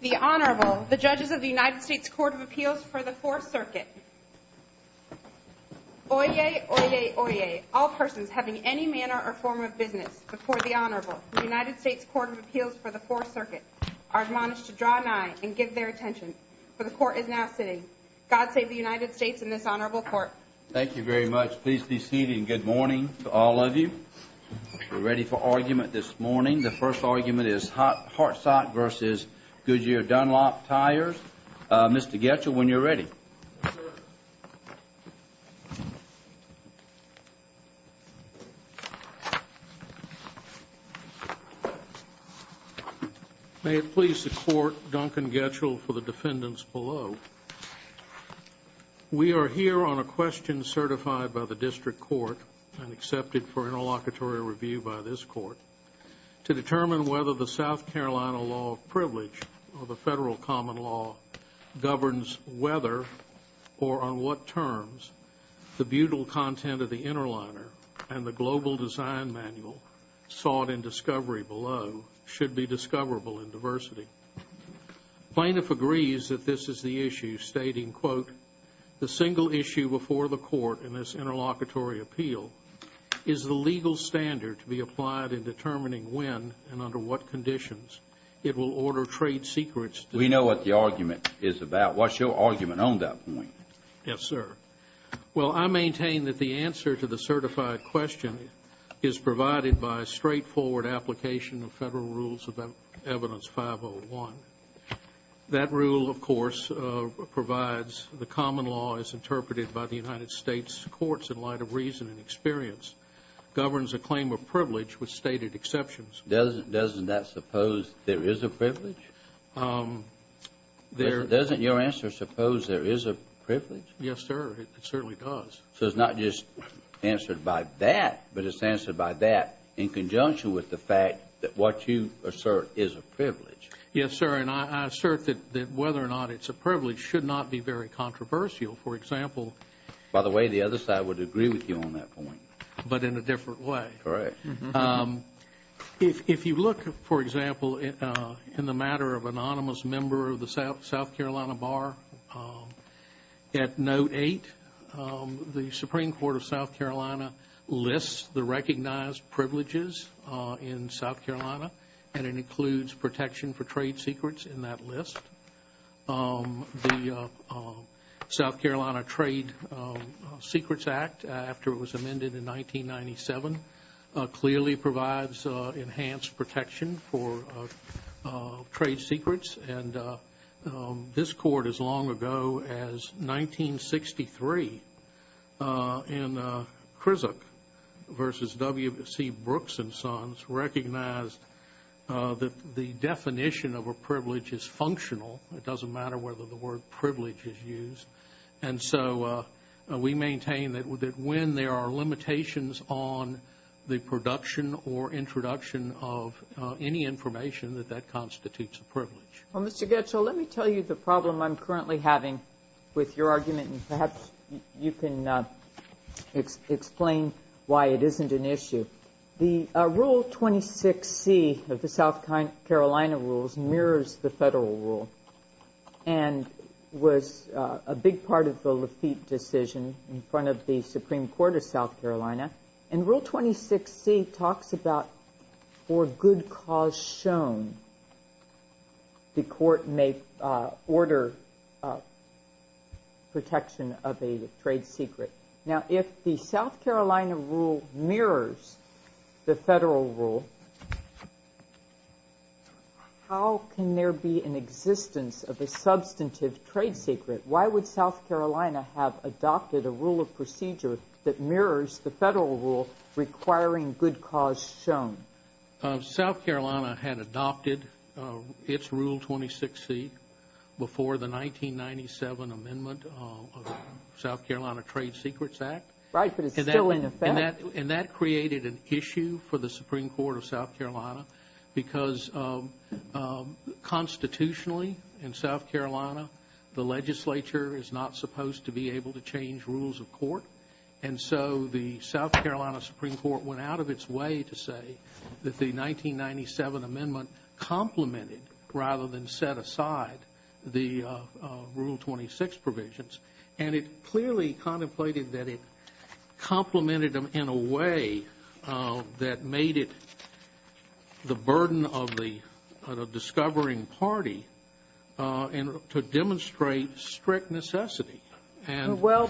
The Honorable, the Judges of the United States Court of Appeals for the Fourth Circuit. Oyez, oyez, oyez, all persons having any manner or form of business before the Honorable of the United States Court of Appeals for the Fourth Circuit are admonished to draw an eye and give their attention, for the Court is now sitting. God save the United States and this Honorable Court. Thank you very much. Please be seated and good morning to all of you. We're ready for argument this morning. The first argument is Hartsock v. Goodyear Dunlop Tires. Mr. Getchell, when you're ready. May it please the Court, Duncan Getchell for the defendants below. We are here on a question certified by the District Court and accepted for interlocutory review by this Court to determine whether the South Carolina Law of Privilege or the Federal Common Law governs whether or on what terms the butyl content of the interliner and the global design manual sought in discovery below should be discoverable in diversity. Plaintiff agrees that this is the issue, stating, quote, the single issue before the Court in this interlocutory appeal is the legal standard to be applied in determining when and under what conditions it will order trade secrets. We know what the argument is about. What's your argument on that point? Yes, sir. Well, I maintain that the answer to the certified question is provided by a straightforward application of Federal Rules of Evidence 501. That rule, of course, provides the common law as interpreted by the United States courts in light of reason and experience, governs a claim of privilege with stated exceptions. Doesn't that suppose there is a privilege? Yes, sir. It certainly does. So it's not just answered by that, but it's answered by that in conjunction with the fact that what you assert is a privilege. Yes, sir. And I assert that whether or not it's a privilege should not be very controversial. For example, by the way, the other side would agree with you on that point. But in a different way. Correct. If you look, for example, in the matter of anonymous member of the South Carolina Bar, at Note 8, the Supreme Court of South Carolina lists the recognized privileges in South Carolina, and it includes protection for trade secrets in that list. The South Carolina Trade Secrets Act, after it was amended in 1997, clearly provides enhanced protection for trade secrets. And this Court, as long ago as 1963, in Krizak v. W.C. Brooks and Sons, recognized that the definition of a privilege is functional. It doesn't matter whether the word privilege is used. And so we maintain that when there are limitations on the production or introduction of any information, that that constitutes a privilege. Well, Mr. Goetzel, let me tell you the problem I'm currently having with your argument, and perhaps you can explain why it isn't an issue. The Rule 26C of the South Carolina rules mirrors the federal rule and was a big part of the Lafitte decision in front of the Supreme Court of South Carolina. And Rule 26C talks about, for good cause shown, the court may order protection of a trade secret. Now, if the South Carolina rule mirrors the federal rule, how can there be an existence of a substantive trade secret? Why would South Carolina have adopted a rule of procedure that mirrors the federal rule requiring good cause shown? South Carolina had adopted its Rule 26C before the 1997 amendment of the South Carolina Trade Secrets Act. Right. But it's still in effect. And that created an issue for the Supreme Court of South Carolina because constitutionally in South Carolina the legislature is not supposed to be able to change rules of court. And so the South Carolina Supreme Court went out of its way to say that the 1997 amendment complemented rather than set aside the Rule 26 provisions. And it clearly contemplated that it complemented them in a way that made it the burden of the discovering party to demonstrate strict necessity. Well,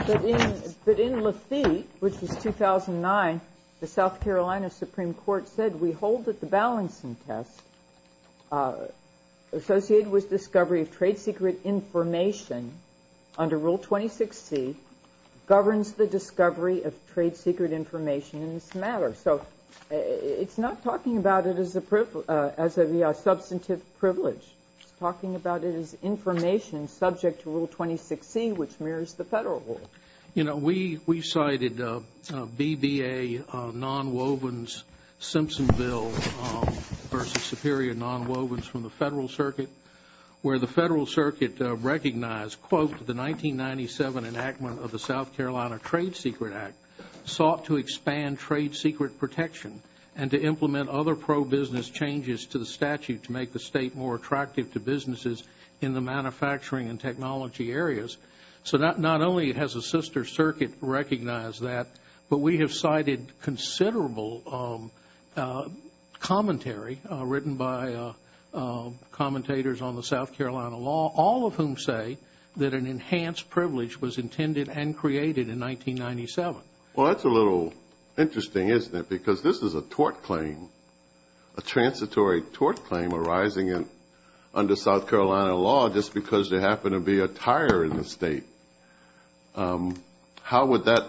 but in Lafitte, which was 2009, the South Carolina Supreme Court said, we hold that the balancing test associated with discovery of trade secret information under Rule 26C governs the discovery of trade secret information in this matter. So it's not talking about it as a substantive privilege. It's talking about it as information subject to Rule 26C, which mirrors the federal rule. You know, we cited BBA nonwovens Simpsonville versus superior nonwovens from the federal circuit, where the federal circuit recognized, quote, the 1997 enactment of the South Carolina Trade Secret Act sought to expand trade secret protection and to implement other pro-business changes to the statute to make the state more attractive to businesses in the manufacturing and technology areas. So not only has the sister circuit recognized that, but we have cited considerable commentary written by commentators on the South Carolina law, all of whom say that an enhanced privilege was intended and created in 1997. Well, that's a little interesting, isn't it? Because this is a tort claim, a transitory tort claim arising under South Carolina law, just because there happened to be a tire in the state. How would that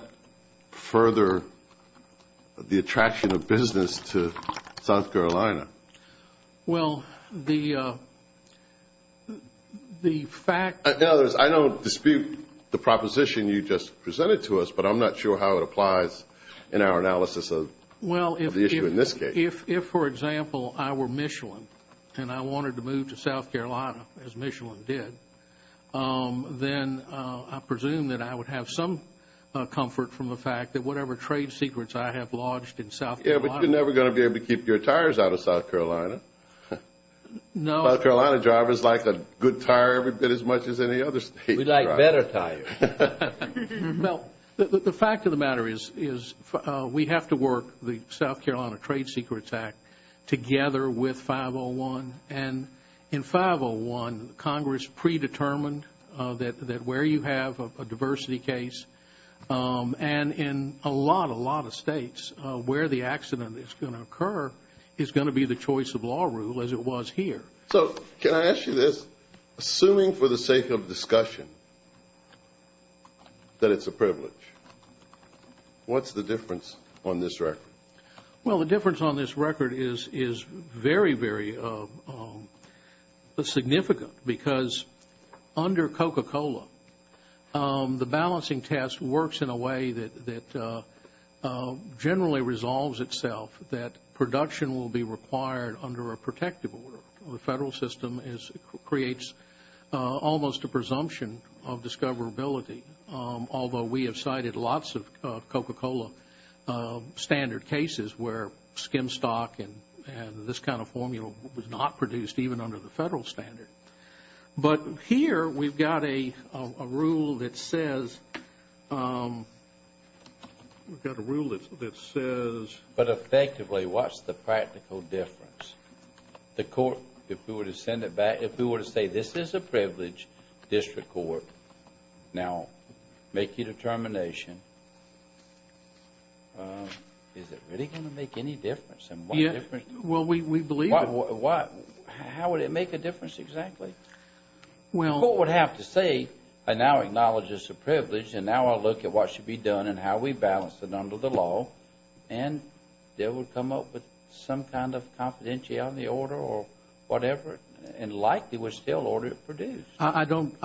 further the attraction of business to South Carolina? Well, the fact – In other words, I don't dispute the proposition you just presented to us, but I'm not sure how it applies in our analysis of the issue in this case. Well, if, for example, I were Michelin and I wanted to move to South Carolina, as Michelin did, then I presume that I would have some comfort from the fact that whatever trade secrets I have lodged in South Carolina. Yeah, but you're never going to be able to keep your tires out of South Carolina. No. South Carolina drivers like a good tire every bit as much as any other state driver. We like better tires. Well, the fact of the matter is we have to work the South Carolina Trade Secrets Act together with 501. And in 501, Congress predetermined that where you have a diversity case, and in a lot, a lot of states, where the accident is going to occur is going to be the choice of law rule as it was here. So can I ask you this? Assuming for the sake of discussion that it's a privilege, what's the difference on this record? Well, the difference on this record is very, very significant because under Coca-Cola, the balancing test works in a way that generally resolves itself, that production will be required under a protective order. The federal system creates almost a presumption of discoverability, although we have cited lots of Coca-Cola standard cases where skim stock and this kind of formula was not produced even under the federal standard. But here, we've got a rule that says... We've got a rule that says... But effectively, what's the practical difference? The court, if we were to send it back, if we were to say this is a privilege district court, now, make your determination, is it really going to make any difference? Well, we believe it. How would it make a difference exactly? The court would have to say, I now acknowledge it's a privilege, and now I'll look at what should be done and how we balance it under the law, and they would come up with some kind of confidentiality on the order or whatever, and likely would still order it produced. I don't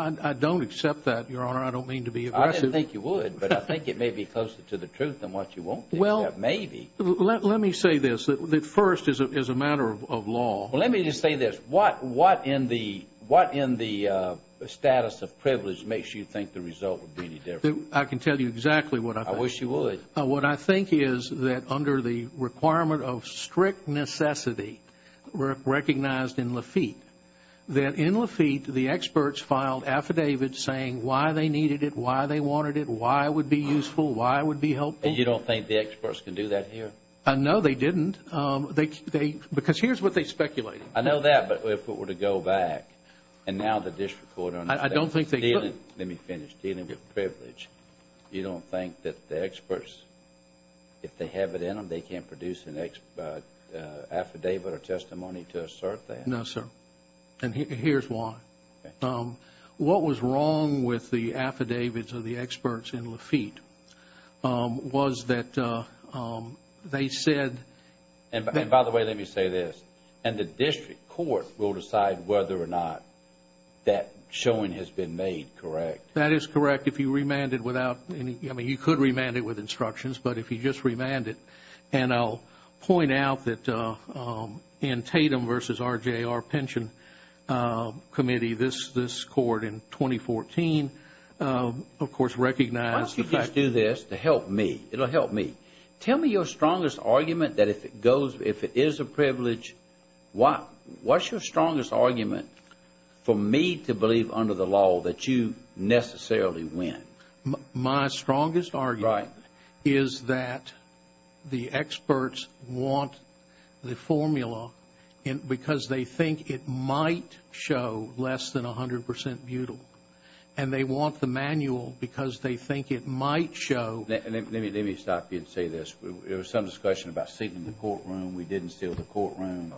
accept that, Your Honor. I don't mean to be aggressive. I didn't think you would, but I think it may be closer to the truth than what you want to accept. Maybe. Let me say this. First, as a matter of law. Well, let me just say this. What in the status of privilege makes you think the result would be any different? I can tell you exactly what I think. I wish you would. What I think is that under the requirement of strict necessity recognized in Lafitte, that in Lafitte, the experts filed affidavits saying why they needed it, why they wanted it, why it would be useful, why it would be helpful. You don't think the experts can do that here? No, they didn't. Because here's what they speculated. I know that, but if it were to go back, and now the district court understands. I don't think they could. Let me finish. Dealing with privilege, you don't think that the experts, if they have it in them, they can't produce an affidavit or testimony to assert that? No, sir. And here's why. What was wrong with the affidavits of the experts in Lafitte was that they said. And by the way, let me say this. And the district court will decide whether or not that showing has been made correct? That is correct. If you remand it without any, I mean, you could remand it with instructions, but if you just remand it. And I'll point out that in Tatum v. RJR Pension Committee, this court in 2014, of course, recognized. Why don't you just do this to help me? It will help me. Tell me your strongest argument that if it is a privilege, what's your strongest argument for me to believe under the law that you necessarily win? My strongest argument. Right. Is that the experts want the formula because they think it might show less than 100% butyl. And they want the manual because they think it might show. Let me stop you and say this. There was some discussion about sealing the courtroom. We didn't seal the courtroom.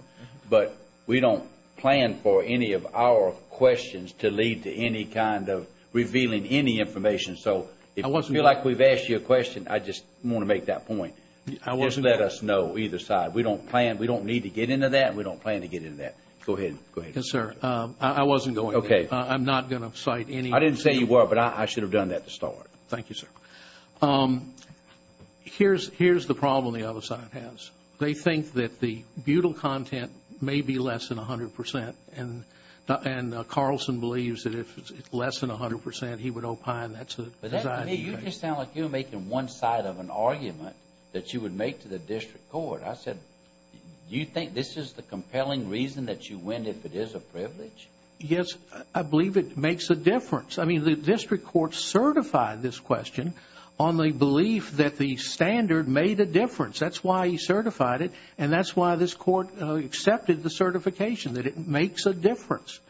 But we don't plan for any of our questions to lead to any kind of revealing any information. So if you feel like we've asked you a question, I just want to make that point. Just let us know either side. We don't need to get into that and we don't plan to get into that. Go ahead. Yes, sir. I wasn't going to. Okay. I'm not going to cite any. I didn't say you were, but I should have done that to start. Thank you, sir. Here's the problem the other side has. They think that the butyl content may be less than 100%. And Carlson believes that if it's less than 100%, he would opine. You just sound like you're making one side of an argument that you would make to the district court. I said, do you think this is the compelling reason that you win if it is a privilege? Yes, I believe it makes a difference. I mean, the district court certified this question on the belief that the standard made a difference. That's why he certified it, and that's why this court accepted the certification, that it makes a difference.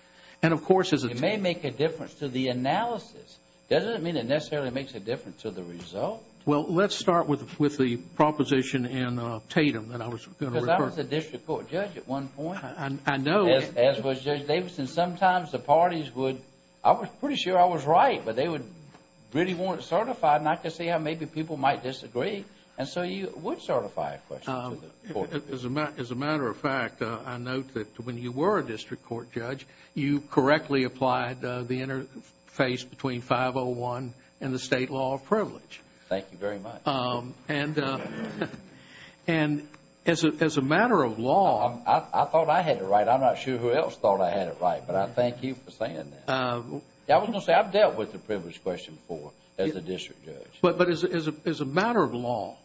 And, of course, as a team. It may make a difference to the analysis. Doesn't it mean it necessarily makes a difference to the result? Well, let's start with the proposition in Tatum that I was going to refer to. Because I was a district court judge at one point. I know. As was Judge Davidson. Sometimes the parties would, I was pretty sure I was right, but they really weren't certified, and I could see how maybe people might disagree. And so you would certify a question to the court. As a matter of fact, I note that when you were a district court judge, you correctly applied the interface between 501 and the state law of privilege. Thank you very much. And as a matter of law, I thought I had it right. I'm not sure who else thought I had it right, but I thank you for saying that. I was going to say, I've dealt with the privilege question before as a district judge. But as a matter of law,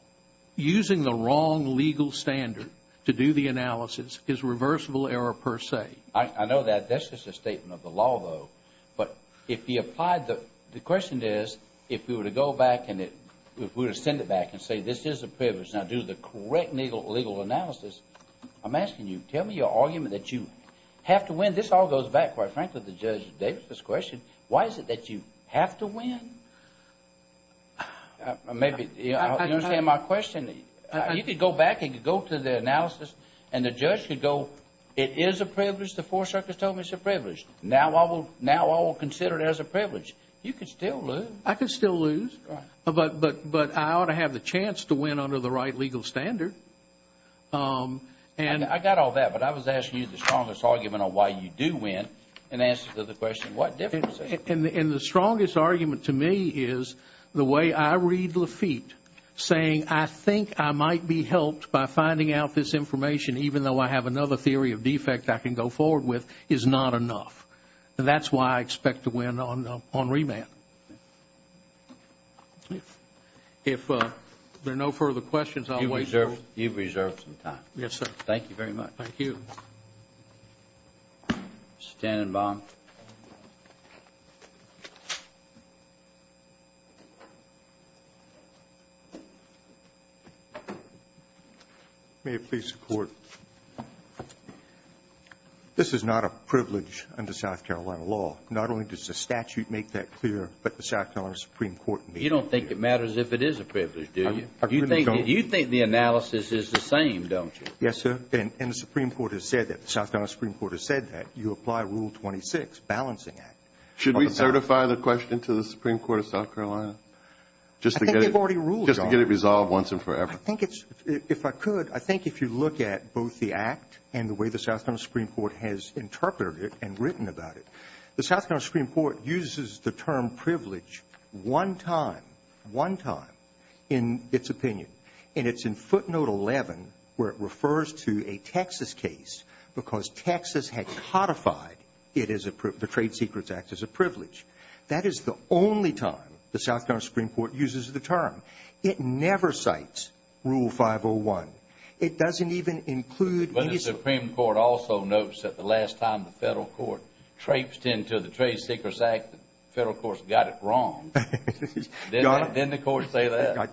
using the wrong legal standard to do the analysis is reversible error per se. I know that. That's just a statement of the law, though. But if you applied, the question is, if we were to go back and it, if we were to send it back and say this is a privilege, and I do the correct legal analysis, I'm asking you, tell me your argument that you have to win. This all goes back, quite frankly, to Judge Davidson's question. Why is it that you have to win? Maybe you understand my question. You could go back and you could go to the analysis and the judge could go, it is a privilege. The four circuits told me it's a privilege. Now I will consider it as a privilege. You could still lose. I could still lose. But I ought to have the chance to win under the right legal standard. And I got all that, but I was asking you the strongest argument on why you do win in answer to the question, what difference does it make? And the strongest argument to me is the way I read Lafitte, saying I think I might be helped by finding out this information, even though I have another theory of defect I can go forward with, is not enough. That's why I expect to win on remand. If there are no further questions, I'll wait. You've reserved some time. Yes, sir. Thank you very much. Thank you. Mr. Tannenbaum. May it please the Court. This is not a privilege under South Carolina law. Not only does the statute make that clear, but the South Carolina Supreme Court made it clear. You don't think it matters if it is a privilege, do you? You think the analysis is the same, don't you? Yes, sir. And the Supreme Court has said that. The South Carolina Supreme Court has said that. You apply Rule 26, Balancing Act. Should we certify the question to the Supreme Court of South Carolina just to get it resolved once and forever? If I could, I think if you look at both the Act and the way the South Carolina Supreme Court has interpreted it and written about it, the South Carolina Supreme Court uses the term privilege one time, one time in its opinion. And it's in footnote 11 where it refers to a Texas case because Texas had codified the Trade Secrets Act as a privilege. That is the only time the South Carolina Supreme Court uses the term. It never cites Rule 501. It doesn't even include any of them. But the Supreme Court also notes that the last time the Federal Court traipsed into the Trade Secrets Act, the Federal Court's got it wrong. Didn't the Court say that?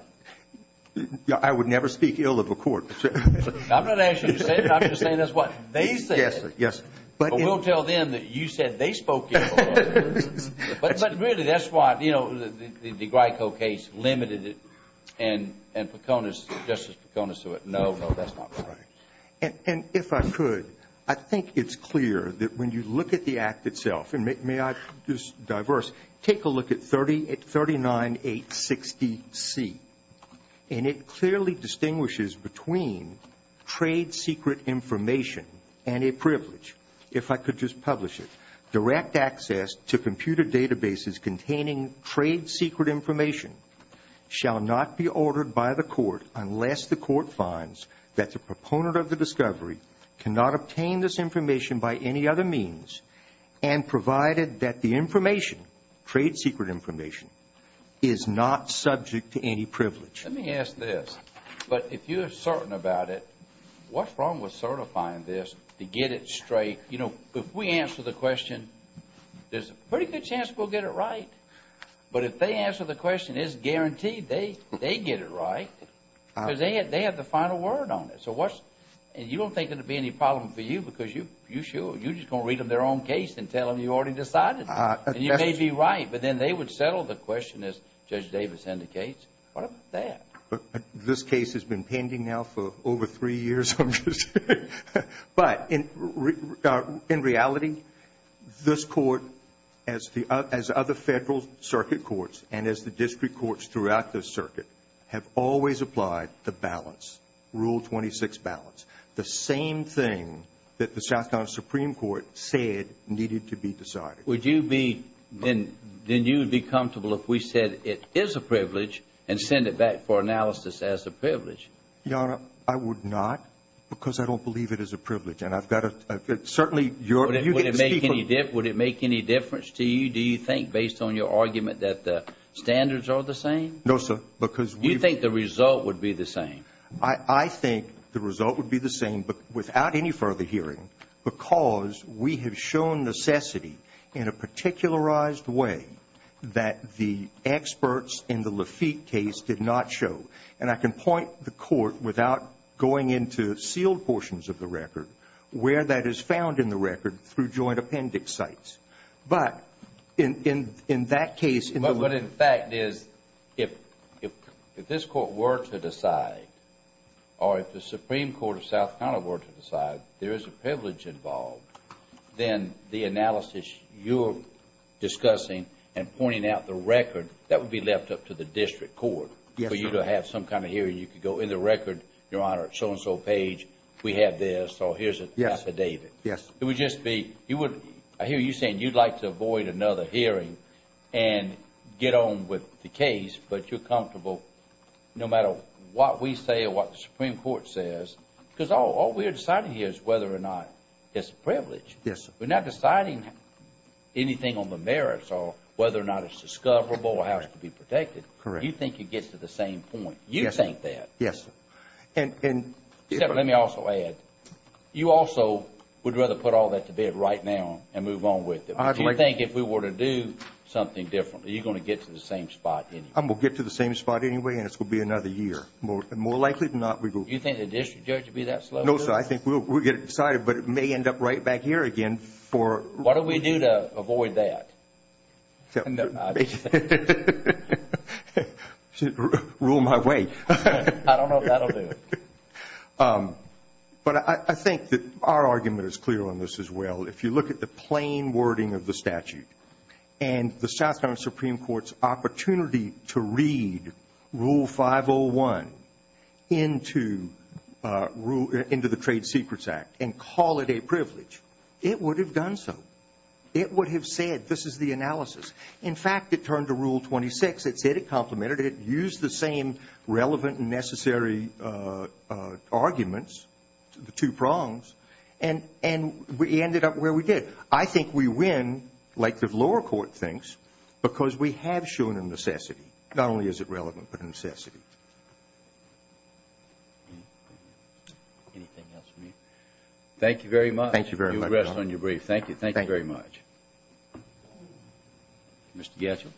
I would never speak ill of a Court. I'm not asking you to say it. I'm just saying that's what they said. Yes, sir. Yes. But we'll tell them that you said they spoke ill of it. But really, that's why, you know, the Grico case limited it. And Peconis, Justice Peconis, said no, no, that's not right. And if I could, I think it's clear that when you look at the Act itself, and may I just diverse, take a look at 39860C, and it clearly distinguishes between trade secret information and a privilege. If I could just publish it. Direct access to computer databases containing trade secret information shall not be ordered by the Court unless the Court finds that the proponent of the discovery cannot obtain this information by any other means and provided that the information, trade secret information, is not subject to any privilege. Let me ask this. But if you're certain about it, what's wrong with certifying this to get it straight? You know, if we answer the question, there's a pretty good chance we'll get it right. But if they answer the question, it's guaranteed they get it right because they have the final word on it. And you don't think it will be any problem for you because you're sure. You're just going to read them their own case and tell them you already decided. And you may be right, but then they would settle the question, as Judge Davis indicates. What about that? This case has been pending now for over three years, I'm just saying. But in reality, this Court, as other Federal circuit courts, and as the district courts throughout this circuit, have always applied the balance, Rule 26 balance, the same thing that the South Carolina Supreme Court said needed to be decided. Would you be comfortable if we said it is a privilege and send it back for analysis as a privilege? Your Honor, I would not because I don't believe it is a privilege. And I've got to certainly your view. Would it make any difference to you, do you think, based on your argument that the standards are the same? No, sir. You think the result would be the same? I think the result would be the same, but without any further hearing, because we have shown necessity in a particularized way that the experts in the Lafitte case did not show. And I can point the Court, without going into sealed portions of the record, where that is found in the record through joint appendix sites. But in that case ---- But in fact, if this Court were to decide or if the Supreme Court of South Carolina were to decide there is a privilege involved, then the analysis you're discussing and pointing out the record, that would be left up to the district court. Yes, sir. For you to have some kind of hearing. You could go in the record, Your Honor, so-and-so page, we have this, so here's an affidavit. Yes. It would just be, I hear you saying you'd like to avoid another hearing and get on with the case, but you're comfortable no matter what we say or what the Supreme Court says, because all we're deciding here is whether or not it's a privilege. Yes, sir. We're not deciding anything on the merits or whether or not it's discoverable or has to be protected. Correct. You think it gets to the same point. Yes, sir. You think that. Yes, sir. Except let me also add, you also would rather put all that to bed right now and move on with it. Do you think if we were to do something differently, you're going to get to the same spot anyway? I'm going to get to the same spot anyway, and it's going to be another year. More likely than not, we will. Do you think the district judge will be that slow? No, sir. I think we'll get it decided, but it may end up right back here again for- What do we do to avoid that? Rule my way. I don't know if that will do it. But I think that our argument is clear on this as well. If you look at the plain wording of the statute and the South Carolina Supreme Court's opportunity to read Rule 501 into the Trade Secrets Act and call it a privilege, it would have done so. It would have said, this is the analysis. In fact, it turned to Rule 26. It said it complemented it. It used the same relevant and necessary arguments, the two prongs, and we ended up where we did. I think we win, like the lower court thinks, because we have shown a necessity. Not only is it relevant, but a necessity. Anything else for me? Thank you very much. Thank you very much, Your Honor. You rest on your brief. Thank you. Thank you very much. Mr. Gadsden? Yes,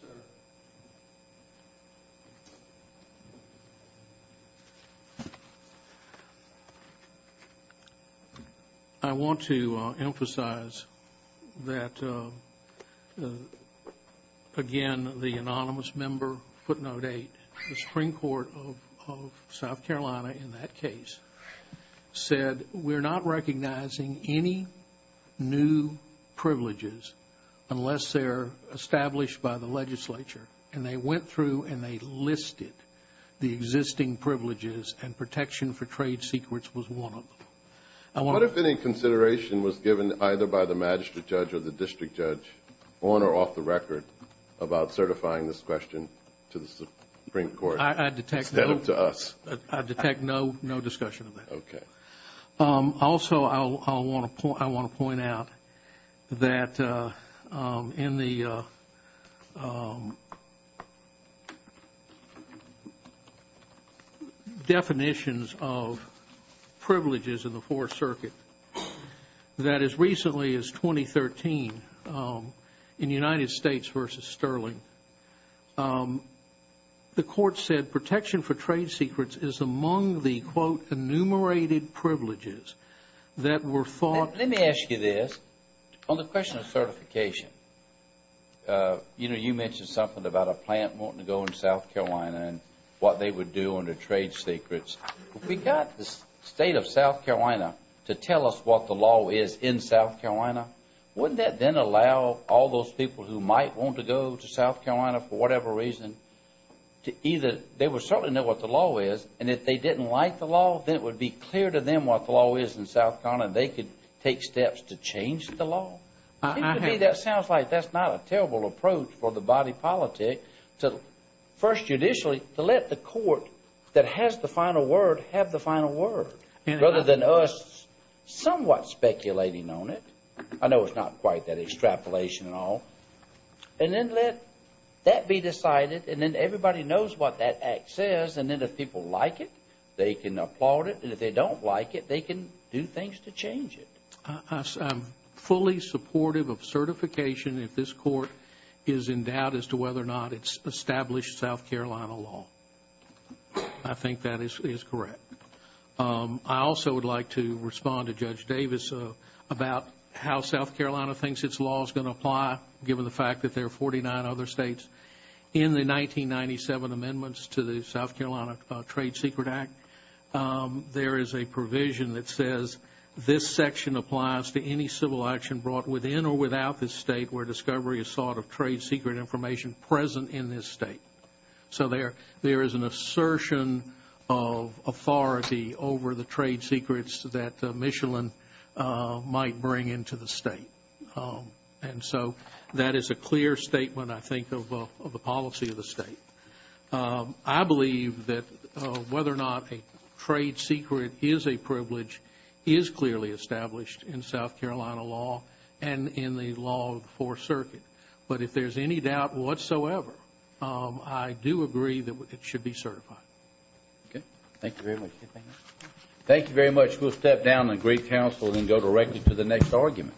sir. I want to emphasize that, again, the anonymous member, footnote 8, the Supreme Court of South Carolina in that case said, we're not recognizing any new privileges unless they're established by the legislature. And they went through and they listed the existing privileges, and protection for trade secrets was one of them. What if any consideration was given either by the magistrate judge or the district judge, on or off the record, about certifying this question to the Supreme Court? I detect no discussion of that. Okay. Also, I want to point out that in the definitions of privileges in the Fourth Circuit, that as recently as 2013, in United States v. Sterling, the court said protection for trade secrets is among the, quote, enumerated privileges that were thought. Let me ask you this. On the question of certification, you know, you mentioned something about a plant wanting to go into South Carolina and what they would do under trade secrets. If we got the State of South Carolina to tell us what the law is in South Carolina, wouldn't that then allow all those people who might want to go to South Carolina, for whatever reason, to either they would certainly know what the law is, and if they didn't like the law, then it would be clear to them what the law is in South Carolina, and they could take steps to change the law? It seems to me that sounds like that's not a terrible approach for the body politic to, first judicially, to let the court that has the final word have the final word, rather than us somewhat speculating on it. I know it's not quite that extrapolation at all. And then let that be decided, and then everybody knows what that act says, and then if people like it, they can applaud it, and if they don't like it, they can do things to change it. I'm fully supportive of certification if this court is in doubt as to whether or not it's established South Carolina law. I think that is correct. I also would like to respond to Judge Davis about how South Carolina thinks its law is going to apply, given the fact that there are 49 other states. In the 1997 amendments to the South Carolina Trade Secret Act, there is a provision that says this section applies to any civil action brought within or without the state where discovery is sought of trade secret information present in this state. So there is an assertion of authority over the trade secrets that Michelin might bring into the state. And so that is a clear statement, I think, of the policy of the state. I believe that whether or not a trade secret is a privilege is clearly established in South Carolina law and in the law of the Fourth Circuit. But if there's any doubt whatsoever, I do agree that it should be certified. Okay. Thank you very much. Thank you very much. We'll step down and agree counsel and go directly to the next argument.